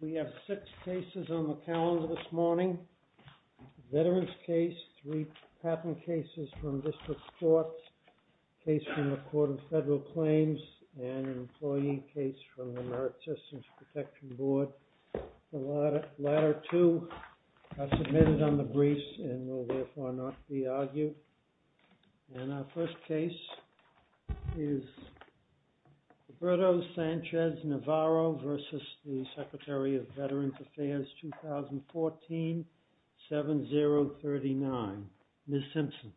We have six cases on the calendar this morning, a veterans case, three patent cases from District Courts, a case from the Court of Federal Claims, and an employee case from the AmeriCorps Systems Protection Board. The latter two are submitted on the briefs and will therefore not be argued. And our first case is Roberto Sanchez-Navarro v. the Secretary of Veterans Affairs, 2014, 7039, Ms. Simpson.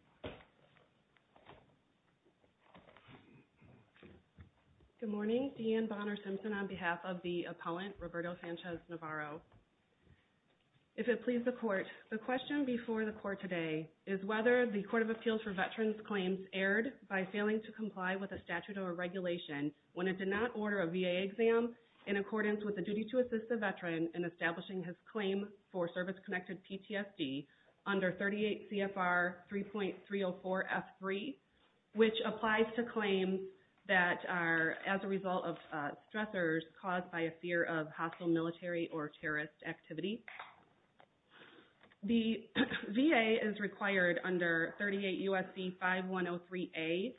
Good morning, Deanne Bonner Simpson on behalf of the opponent, Roberto Sanchez-Navarro. If it pleases the Court, the question before the Court today is whether the Court of Appeals for Veterans Claims erred by failing to comply with a statute or regulation when it did not order a VA exam in accordance with the duty to assist the veteran in establishing his claim for service-connected PTSD under 38 CFR 3.304F3, which applies to claims that are as a result of stressors caused by a fear of hostile military or terrorist activity. The VA is required under 38 U.S.C. 5103A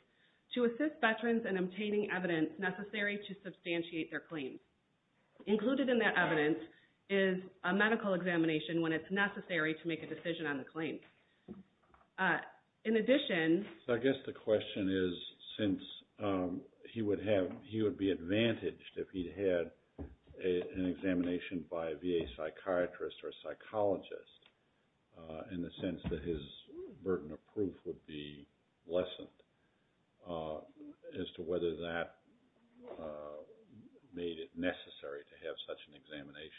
to assist veterans in obtaining evidence necessary to substantiate their claim. Included in that evidence is a medical examination when it's necessary to make a decision on the claim. In addition... I guess the question is, since he would be advantaged if he'd had an examination by a VA psychiatrist or psychologist in the sense that his burden of proof would be lessened as to whether that made it necessary to have such an examination.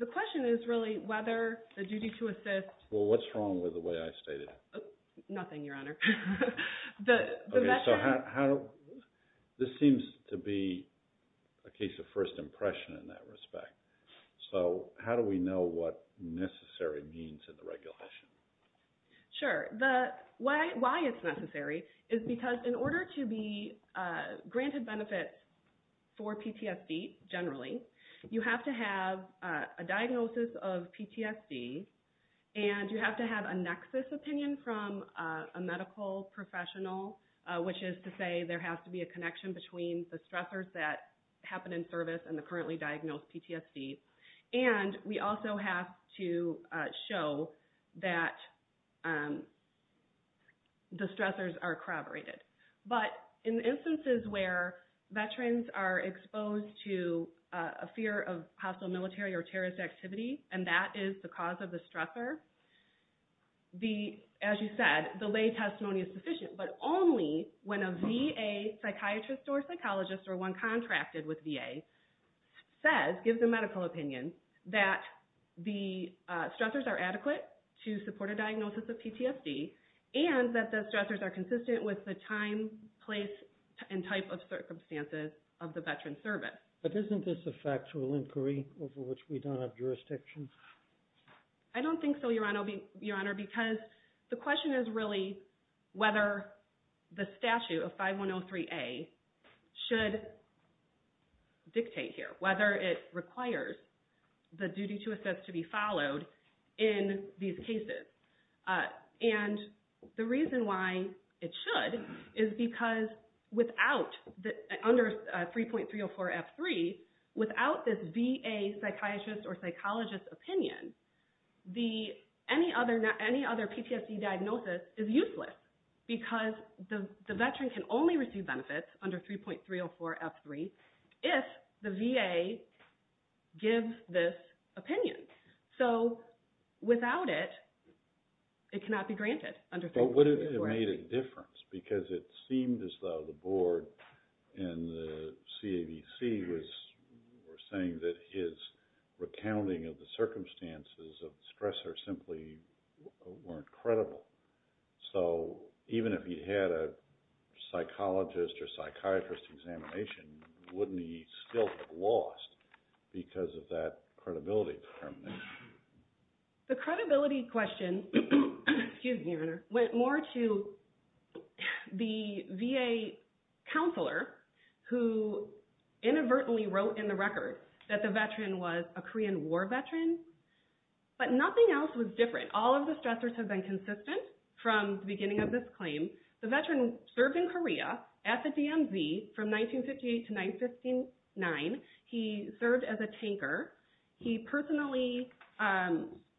The question is really whether the duty to assist... Well, what's wrong with the way I stated it? Nothing, Your Honor. This seems to be a case of first impression in that respect, so how do we know what necessary means in the regulation? Sure. Why it's necessary is because in order to be granted benefits for PTSD generally, you have to have a diagnosis of PTSD, and you have to have a nexus opinion from a medical professional, which is to say there has to be a connection between the stressors that the stressors are corroborated. But in instances where veterans are exposed to a fear of hostile military or terrorist activity, and that is the cause of the stressor, as you said, the lay testimony is sufficient. But only when a VA psychiatrist or psychologist or one contracted with VA says, gives a medical opinion that the stressors are adequate to support a diagnosis of PTSD, and that the stressors are consistent with the time, place, and type of circumstances of the veteran's service. But isn't this a factual inquiry over which we don't have jurisdiction? I don't think so, Your Honor, because the question is really whether the statute of the duty to assist should be followed in these cases. And the reason why it should is because under 3.304F3, without this VA psychiatrist or psychologist opinion, any other PTSD diagnosis is useless because the veteran can only receive benefits under 3.304F3 if the VA gives this opinion. So without it, it cannot be granted under 3.304F3. But what if it made a difference? Because it seemed as though the board and the CADC were saying that his recounting of the circumstances of the stressor simply weren't credible. So even if he had a psychologist or psychiatrist examination, wouldn't he still have lost because of that credibility determination? The credibility question, excuse me, Your Honor, went more to the VA counselor who inadvertently wrote in the record that the veteran was a Korean War veteran, but nothing else was different. All of the stressors have been consistent from the beginning of this claim. The veteran served in Korea at the DMZ from 1958 to 1959. He served as a tanker. He personally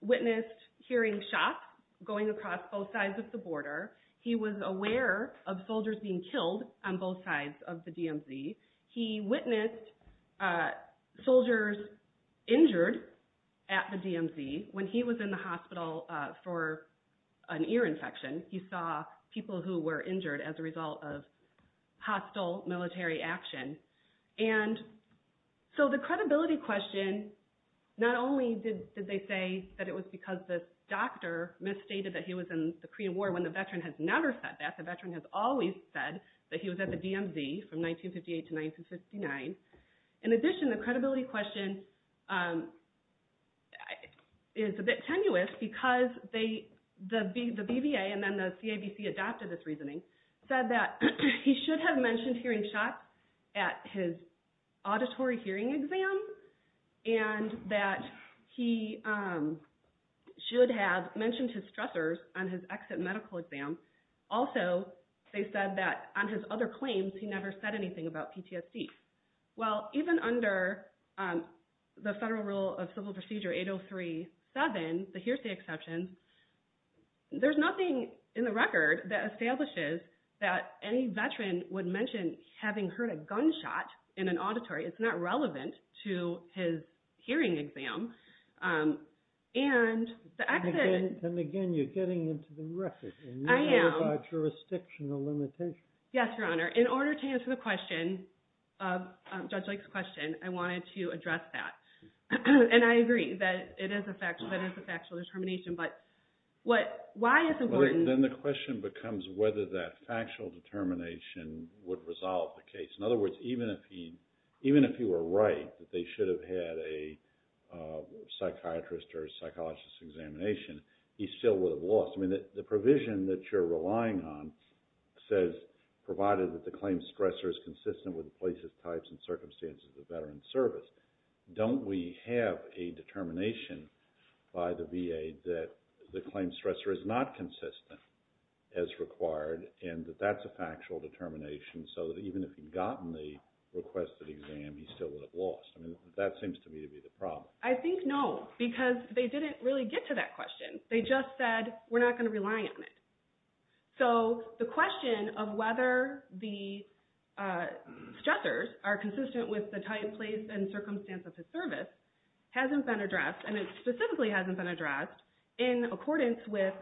witnessed hearing shots going across both sides of the border. He was aware of soldiers being killed on both sides of the DMZ. He witnessed soldiers injured at the DMZ when he was in the hospital for an ear infection. He saw people who were injured as a result of hostile military action. And so the credibility question, not only did they say that it was because this doctor misstated that he was in the Korean War when the veteran has never said that. In fact, the veteran has always said that he was at the DMZ from 1958 to 1959. In addition, the credibility question is a bit tenuous because the BVA and then the CABC adopted this reasoning, said that he should have mentioned hearing shots at his auditory So they said that on his other claims, he never said anything about PTSD. Well, even under the Federal Rule of Civil Procedure 803-7, the hearsay exception, there's nothing in the record that establishes that any veteran would mention having heard a gunshot in an auditory. It's not relevant to his hearing exam. And the accident- And again, you're getting into the record. I am. And you have a jurisdictional limitation. Yes, Your Honor. In order to answer the question, Judge Lake's question, I wanted to address that. And I agree that it is a factual determination, but why it's important- Then the question becomes whether that factual determination would resolve the case. In other words, even if he were right that they should have had a psychiatrist or a psychologist examination, he still would have lost. I mean, the provision that you're relying on says, provided that the claim stressor is consistent with the places, types, and circumstances of veteran service. Don't we have a determination by the VA that the claim stressor is not consistent as required and that that's a factual determination so that even if he'd gotten the requested exam, he still would have lost? I mean, that seems to me to be the problem. I think no, because they didn't really get to that question. They just said, we're not going to rely on it. So the question of whether the stressors are consistent with the type, place, and circumstance of the service hasn't been addressed. And it specifically hasn't been addressed in accordance with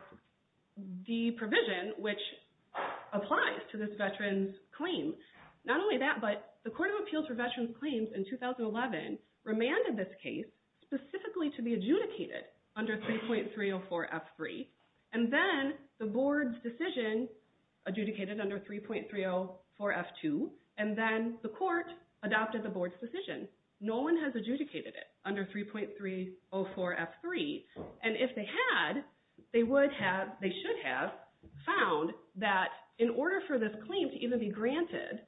the provision which applies to this veteran's claim. Not only that, but the Court of Appeals for Veterans Claims in 2011 remanded this case specifically to be adjudicated under 3.304 F3. And then the board's decision adjudicated under 3.304 F2. And then the court adopted the board's decision. No one has adjudicated it under 3.304 F3. And if they had, they should have found that in order for this claim to even be granted,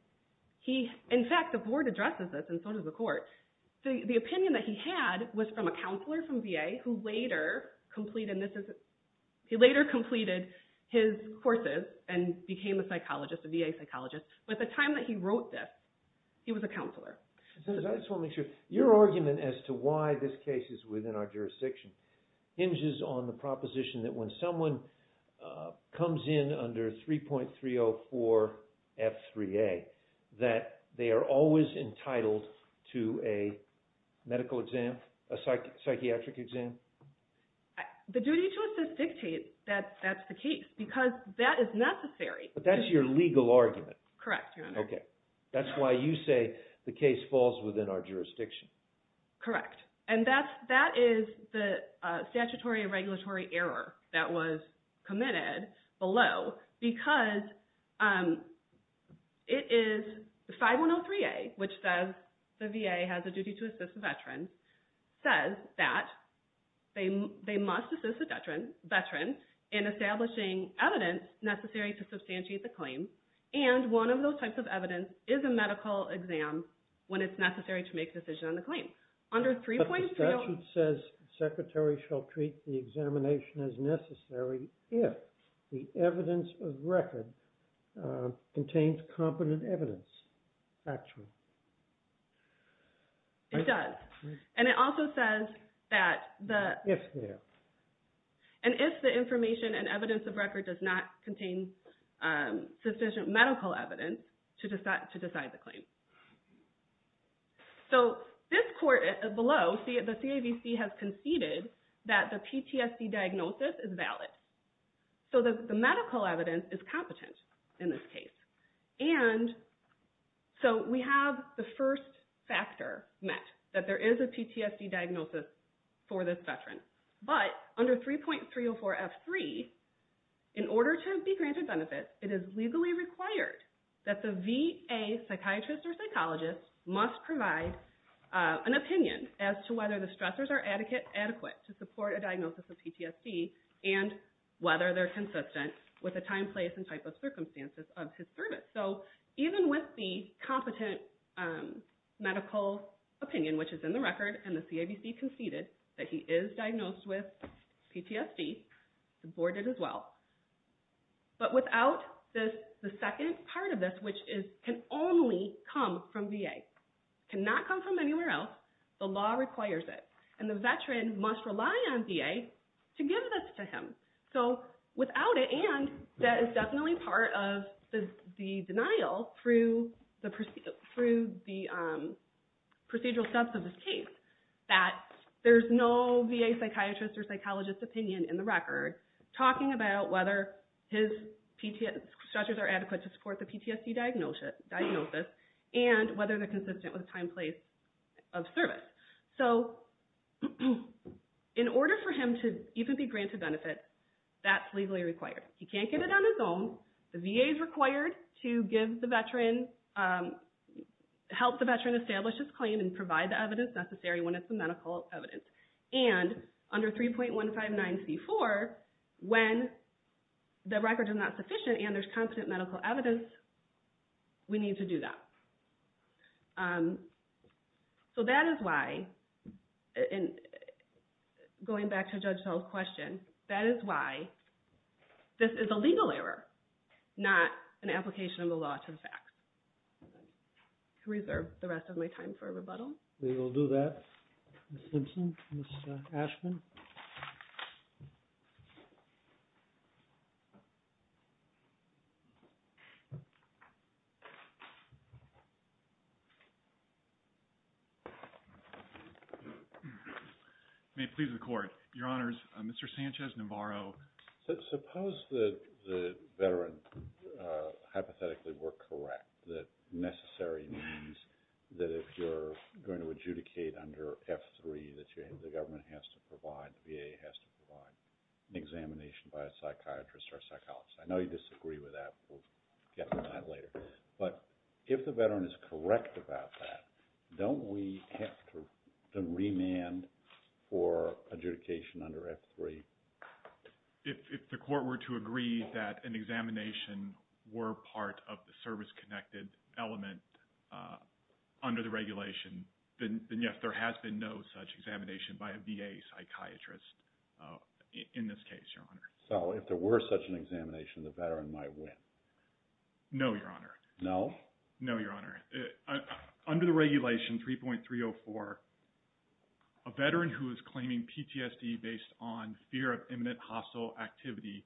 in fact, the board addresses this and so does the court. The opinion that he had was from a counselor from VA who later completed his courses and became a VA psychologist. But at the time that he wrote this, he was a counselor. I just want to make sure. Your argument as to why this case is within our jurisdiction hinges on the proposition that when someone comes in under 3.304 F3A that they are always entitled to a medical exam, a psychiatric exam? The duty to assist dictates that that's the case because that is necessary. But that's your legal argument. Correct, Your Honor. Okay. That's why you say the case falls within our jurisdiction. Correct. And that is the statutory and regulatory error that was committed below because it is 5103A, which says the VA has a duty to assist a veteran, says that they must assist a veteran in establishing evidence necessary to substantiate the claim. And one of those types of evidence is a medical exam when it's necessary to make a decision on the claim. But the statute says the secretary shall treat the examination as necessary if the evidence of record contains competent evidence, actually. It does. And it also says that if the information and evidence of record does not contain sufficient medical evidence to decide the claim. So this court below, the CAVC, has conceded that the PTSD diagnosis is valid. So the medical evidence is competent in this case. And so we have the first factor met, that there is a PTSD diagnosis for this veteran. But under 3.304F3, in order to be granted benefits, it is legally required that the VA psychiatrist or psychologist must provide an opinion as to whether the stressors are adequate to support a diagnosis of PTSD and whether they're consistent with the time, place, and type of circumstances of his service. So even with the competent medical opinion, which is in the record, and the CAVC conceded that he is diagnosed with PTSD, the board did as well. But without the second part of this, which can only come from VA, cannot come from anywhere else, the law requires it. And the veteran must rely on VA to give this to him. So without it, and that is definitely part of the denial through the procedural steps of this case, that there's no VA psychiatrist or psychologist opinion in the record talking about whether his stressors are adequate to support the PTSD diagnosis and whether they're consistent with the time, place of service. So in order for him to even be granted benefits, that's legally required. He can't get it on his own. The VA is required to help the veteran establish his claim and provide the evidence necessary when it's the medical evidence. And under 3.159C4, when the record is not sufficient and there's competent medical evidence, we need to do that. So that is why, going back to Judge Sell's question, that is why this is a legal error, not an application of the law to the facts. I reserve the rest of my time for rebuttal. We will do that. Ms. Simpson? Ms. Ashman? May it please the Court. Your Honors, Mr. Sanchez-Navarro. Suppose that the veterans hypothetically were correct, that necessary means that if you're going to adjudicate under F3 that the government has to provide, the VA has to provide, an examination by a psychiatrist or a psychologist. I know you disagree with that. We'll get to that later. But if the veteran is correct about that, don't we have to remand for adjudication under F3? If the Court were to agree that an examination were part of the service-connected element under the regulation, then, yes, there has been no such examination by a VA psychiatrist in this case, Your Honor. So if there were such an examination, the veteran might win? No, Your Honor. No? No, Your Honor. Under the regulation 3.304, a veteran who is claiming PTSD based on fear of imminent hostile activity,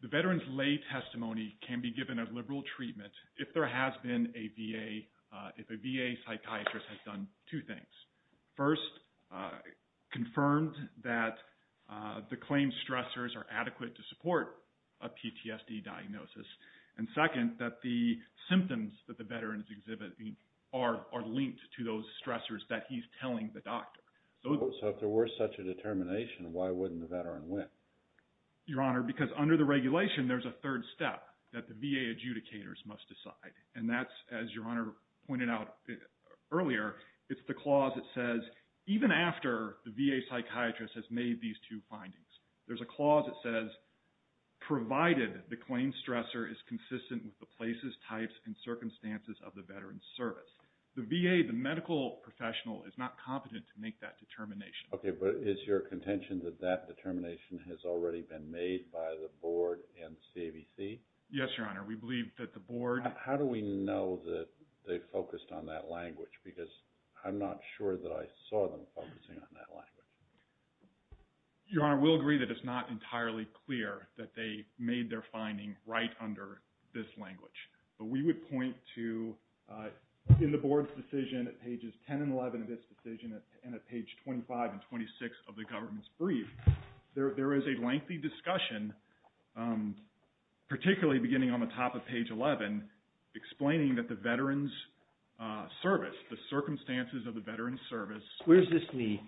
the veteran's lay testimony can be given a liberal treatment if there has been a VA, if a VA psychiatrist has done two things. First, confirmed that the claim stressors are adequate to support a PTSD diagnosis. And second, that the symptoms that the veteran is exhibiting are linked to those stressors that he's telling the doctor. So if there were such a determination, why wouldn't the veteran win? Your Honor, because under the regulation, there's a third step that the VA adjudicators must decide. And that's, as Your Honor pointed out earlier, it's the clause that says, even after the VA psychiatrist has made these two findings, there's a clause that says, provided the claim stressor is consistent with the places, types, and circumstances of the veteran's service. The VA, the medical professional, is not competent to make that determination. Okay. But is your contention that that determination has already been made by the Board and CAVC? Yes, Your Honor. We believe that the Board… How do we know that they focused on that language? Because I'm not sure that I saw them focusing on that language. Your Honor, we'll agree that it's not entirely clear that they made their finding right under this language. But we would point to, in the Board's decision at pages 10 and 11 of this decision, and at page 25 and 26 of the government's brief, there is a lengthy discussion, particularly beginning on the top of page 11, explaining that the veteran's service, the circumstances of the veteran's service… Where does this meet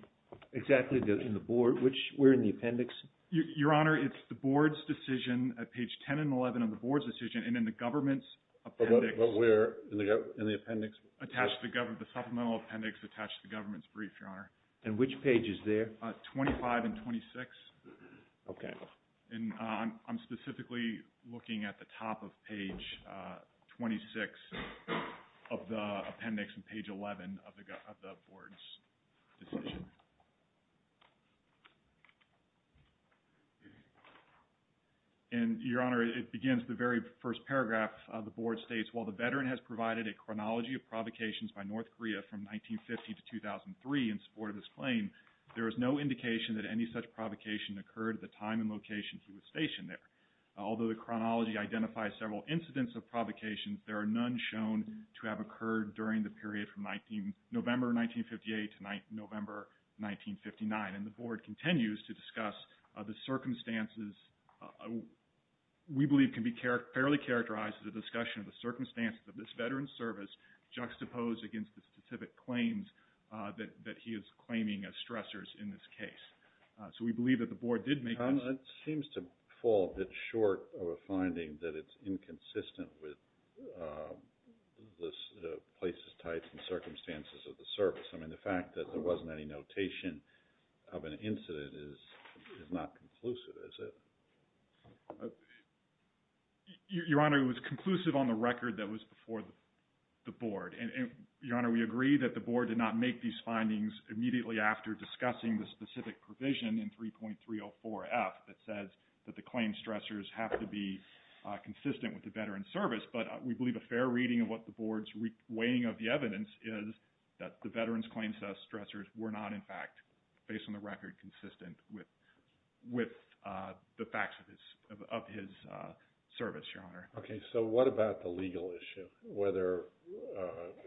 exactly in the Board? Where in the appendix? Your Honor, it's the Board's decision at page 10 and 11 of the Board's decision, and in the government's appendix… But where in the appendix? The supplemental appendix attached to the government's brief, Your Honor. And which pages there? 25 and 26. Okay. And I'm specifically looking at the top of page 26 of the appendix and page 11 of the Board's decision. And, Your Honor, it begins the very first paragraph. The board states, While the veteran has provided a chronology of provocations by North Korea from 1950 to 2003 in support of this claim, there is no indication that any such provocation occurred at the time and location he was stationed there. Although the chronology identifies several incidents of provocations, there are none shown to have occurred during the period from November 1958 to November 1959. And the Board continues to discuss the circumstances we believe can be fairly characterized as a discussion of the circumstances of this veteran's service juxtaposed against the specific claims that he is claiming as stressors in this case. So we believe that the Board did make… Your Honor, it seems to fall short of a finding that it's inconsistent with the places, types, and circumstances of the service. I mean, the fact that there wasn't any notation of an incident is not conclusive, is it? Your Honor, it was conclusive on the record that was before the Board. And, Your Honor, we agree that the Board did not make these findings immediately after discussing the specific provision in 3.304F that says that the claim stressors have to be consistent with the veteran's service. But we believe a fair reading of what the Board's weighing of the evidence is that the veteran's claims as stressors were not, in fact, based on the record, consistent with the facts of his service, Your Honor. Okay. So what about the legal issue, whether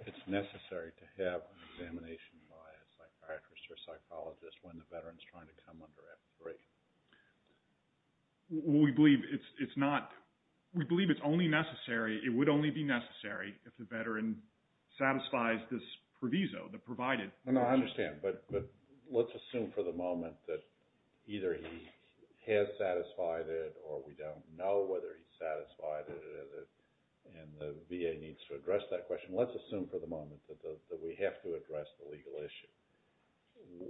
it's necessary to have an examination by a psychiatrist or psychologist when the veteran's trying to come under F3? We believe it's not – we believe it's only necessary – it would only be necessary if the veteran satisfies this proviso that provided. I understand, but let's assume for the moment that either he has satisfied it or we don't know whether he's satisfied it, and the VA needs to address that question. Let's assume for the moment that we have to address the legal issue.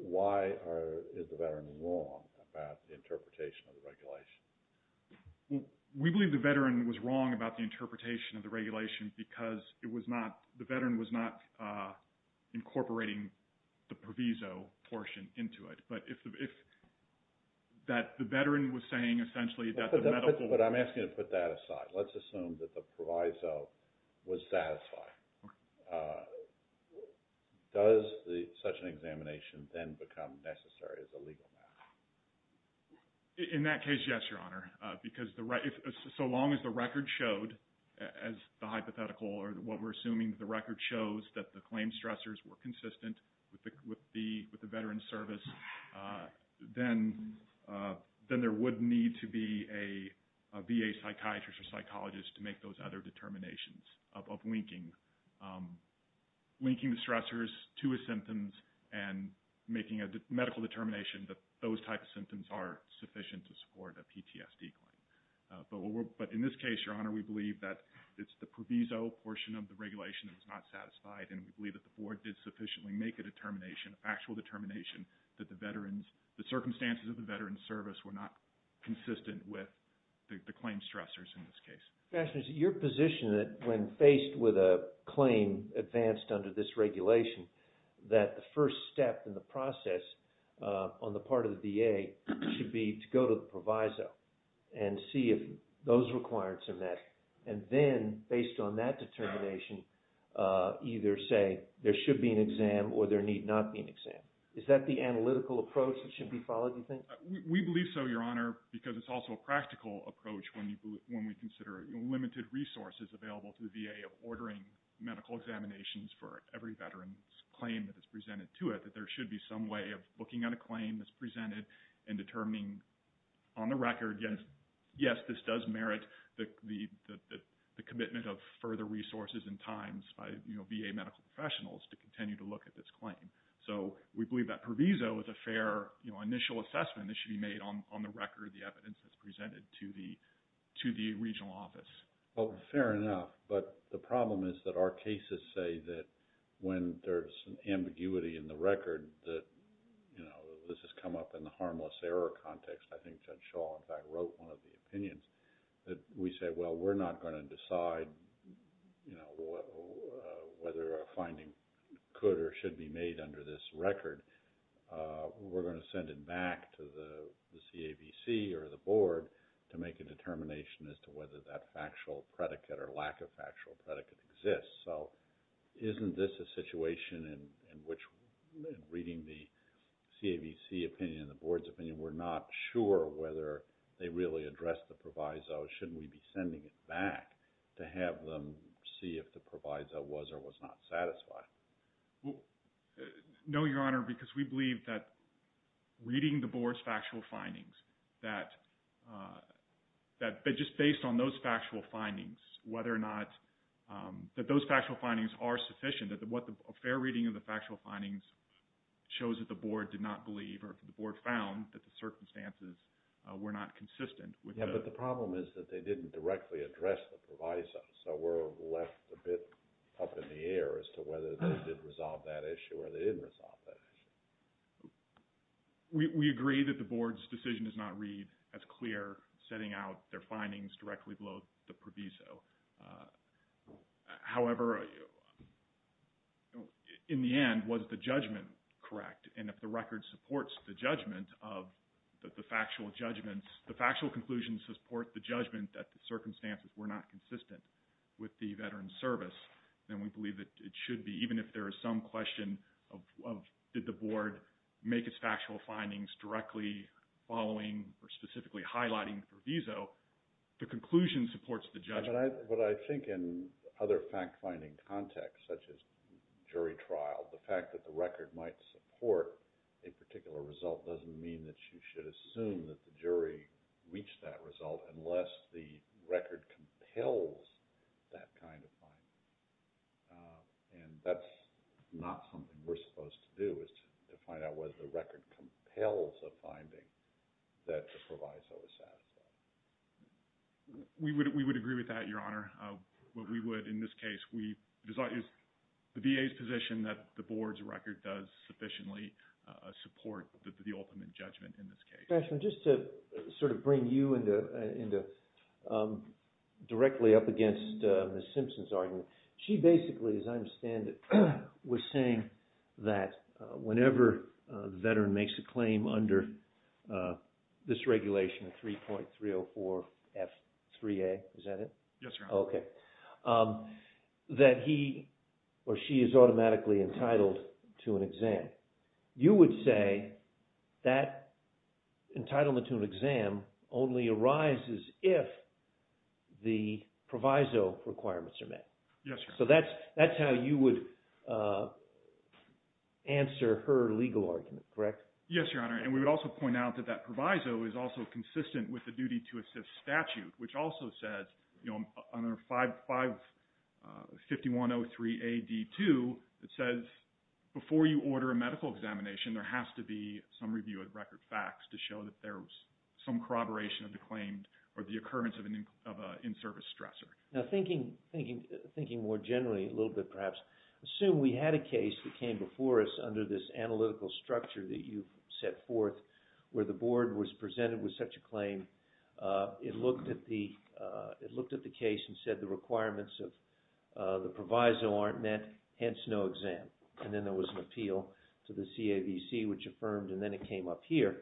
Why is the veteran wrong about the interpretation of the regulation? We believe the veteran was wrong about the interpretation of the regulation because it was not – the veteran was not incorporating the proviso portion into it. But if – that the veteran was saying essentially that the medical – But I'm asking you to put that aside. Let's assume that the proviso was satisfied. Okay. Does such an examination then become necessary as a legal matter? In that case, yes, Your Honor, because the – so long as the record showed as the hypothetical or what we're assuming the record shows that the claim stressors were consistent with the veteran's service, then there would need to be a VA psychiatrist or psychologist to make those other determinations of linking the stressors to his symptoms and making a medical determination that those types of symptoms are sufficient to support a PTSD claim. But in this case, Your Honor, we believe that it's the proviso portion of the regulation that's not satisfied, and we believe that the Board did sufficiently make a determination, a factual determination, that the veteran's – the circumstances of the veteran's service were not consistent with the claim stressors in this case. Your position when faced with a claim advanced under this regulation, that the first step in the process on the part of the VA should be to go to the proviso and see if those requirements are met, and then, based on that determination, either say there should be an exam or there need not be an exam. Is that the analytical approach that should be followed, do you think? We believe so, Your Honor, because it's also a practical approach when we consider limited resources available to the VA of ordering medical examinations for every veteran's claim that is presented to it, that there should be some way of looking at a claim that's presented and determining on the record, yes, this does merit the commitment of further resources and times by VA medical professionals to continue to look at this claim. So we believe that proviso is a fair initial assessment that should be made on the record, the evidence that's presented to the regional office. Well, fair enough, but the problem is that our cases say that when there's an ambiguity in the record, that this has come up in the harmless error context. I think Judge Shaw, in fact, wrote one of the opinions that we said, well, we're not going to decide whether a finding could or should be made under this record. We're going to send it back to the CAVC or the board to make a determination as to whether that factual predicate or lack of factual predicate exists. So isn't this a situation in which reading the CAVC opinion and the board's opinion, we're not sure whether they really addressed the proviso? Shouldn't we be sending it back to have them see if the proviso was or was not satisfied? No, Your Honor, because we believe that reading the board's factual findings, that just based on those factual findings, whether or not those factual findings are sufficient, that a fair reading of the factual findings shows that the board did not believe or the board found that the circumstances were not consistent. Yeah, but the problem is that they didn't directly address the proviso. So we're left a bit up in the air as to whether they did resolve that issue or they didn't resolve that issue. We agree that the board's decision does not read as clear setting out their findings directly below the proviso. However, in the end, was the judgment correct? And if the record supports the judgment of the factual judgments, the factual conclusions support the judgment that the circumstances were not consistent with the Veterans Service, then we believe that it should be. Even if there is some question of did the board make its factual findings directly following or specifically highlighting the proviso, the conclusion supports the judgment. But I think in other fact-finding contexts, such as jury trial, the fact that the record might support a particular result doesn't mean that you should assume that the jury reached that result unless the record compels that kind of finding. And that's not something we're supposed to do is to find out whether the record compels a finding that the proviso is satisfied. We would agree with that, Your Honor. What we would, in this case, is the VA's position that the board's record does sufficiently support the ultimate judgment in this case. Mr. Crashman, just to sort of bring you directly up against Ms. Simpson's argument, she basically, as I understand it, was saying that whenever the veteran makes a claim under this regulation, 3.304F3A, is that it? Yes, Your Honor. Okay. That he or she is automatically entitled to an exam. Okay. You would say that entitlement to an exam only arises if the proviso requirements are met. Yes, Your Honor. So that's how you would answer her legal argument, correct? Yes, Your Honor. And we would also point out that that proviso is also consistent with the duty-to-assist statute, which also says, under 551.03A.D.2, it says before you order a medical examination, there has to be some review of record facts to show that there was some corroboration of the claim or the occurrence of an in-service stressor. Now, thinking more generally a little bit perhaps, assume we had a case that came before us under this analytical structure that you set forth where the board was presented with such a claim. It looked at the case and said the requirements of the proviso aren't met, hence no exam. And then there was an appeal to the CAVC, which affirmed, and then it came up here.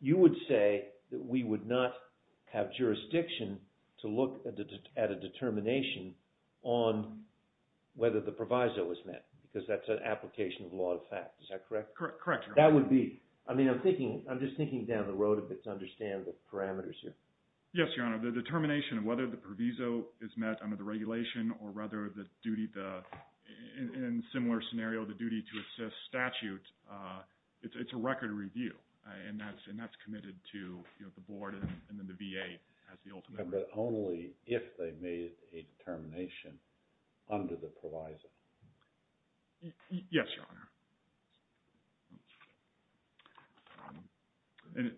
You would say that we would not have jurisdiction to look at a determination on whether the proviso was met because that's an application of law to fact. Is that correct? Correct, Your Honor. That would be – I mean, I'm thinking – I'm just thinking down the road a bit to understand the parameters here. Yes, Your Honor. The determination of whether the proviso is met under the regulation or rather the duty – in a similar scenario, the duty to assist statute, it's a record review, and that's committed to the board and then the VA as the ultimate – But only if they made a determination under the proviso. Yes, Your Honor. And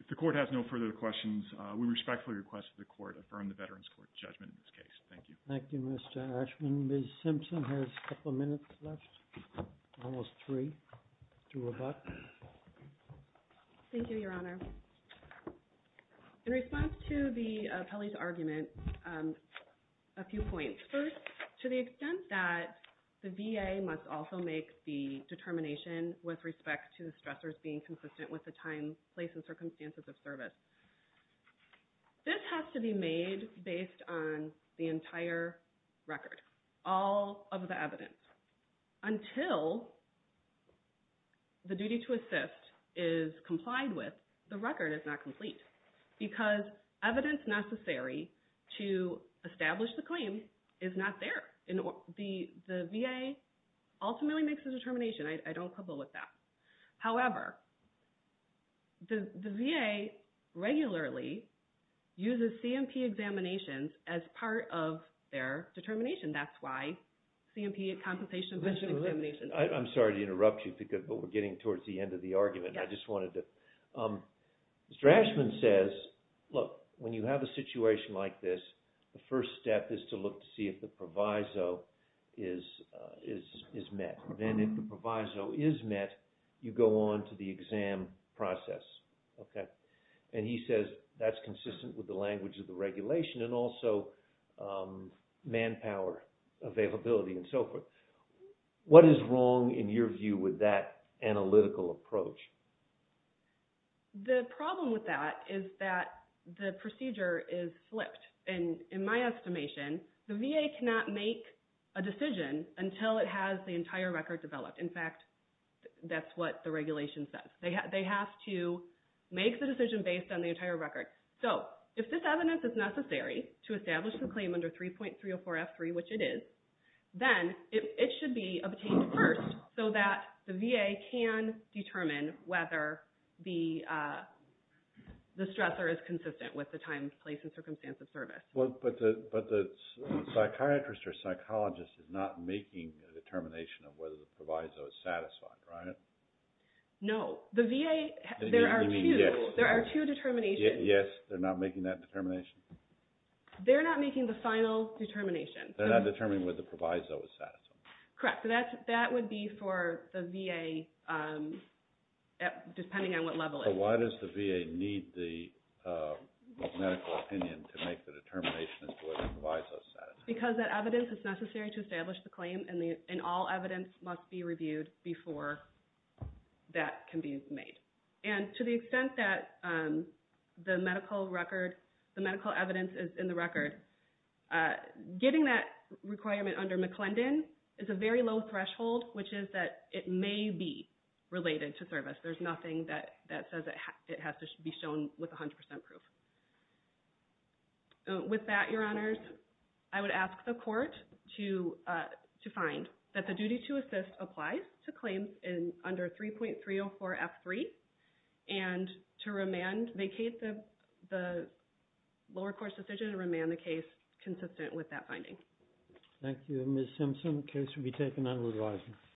if the court has no further questions, we respectfully request that the court affirm the Veterans Court judgment in this case. Thank you. Thank you, Mr. Ashman. Ms. Simpson has a couple minutes left, almost three to rebut. Thank you, Your Honor. In response to the appellee's argument, a few points. First, to the extent that the VA must also make the determination with respect to the stressors being consistent with the time, place, and circumstances of service. This has to be made based on the entire record, all of the evidence. Until the duty to assist is complied with, the record is not complete because evidence necessary to establish the claim is not there. The VA ultimately makes the determination. I don't quibble with that. However, the VA regularly uses C&P examinations as part of their determination. That's why C&P, a compensation-based examination. I'm sorry to interrupt you, but we're getting towards the end of the argument. I just wanted to – Mr. Ashman says, look, when you have a situation like this, the first step is to look to see if the proviso is met. Then if the proviso is met, you go on to the exam process. He says that's consistent with the language of the regulation and also manpower availability and so forth. What is wrong, in your view, with that analytical approach? The problem with that is that the procedure is flipped. In my estimation, the VA cannot make a decision until it has the entire record developed. In fact, that's what the regulation says. They have to make the decision based on the entire record. If this evidence is necessary to establish the claim under 3.304F3, which it is, then it should be obtained first so that the VA can determine whether the stressor is consistent with the time, place, and circumstance of service. But the psychiatrist or psychologist is not making a determination of whether the proviso is satisfied, right? No. The VA, there are two determinations. Yes, they're not making that determination? They're not making the final determination. They're not determining whether the proviso is satisfied? Correct. That would be for the VA, depending on what level it is. But why does the VA need the medical opinion to make the determination as to whether the proviso is satisfied? Because that evidence is necessary to establish the claim, and all evidence must be reviewed before that can be made. And to the extent that the medical record, the medical evidence is in the record, getting that requirement under McClendon is a very low threshold, which is that it may be related to service. There's nothing that says it has to be shown with 100% proof. With that, Your Honors, I would ask the court to find that the duty to assist applies to claims under 3.304F3 and to remand, vacate the lower course decision and remand the case consistent with that finding. Thank you. Ms. Simpson, the case will be taken on revising.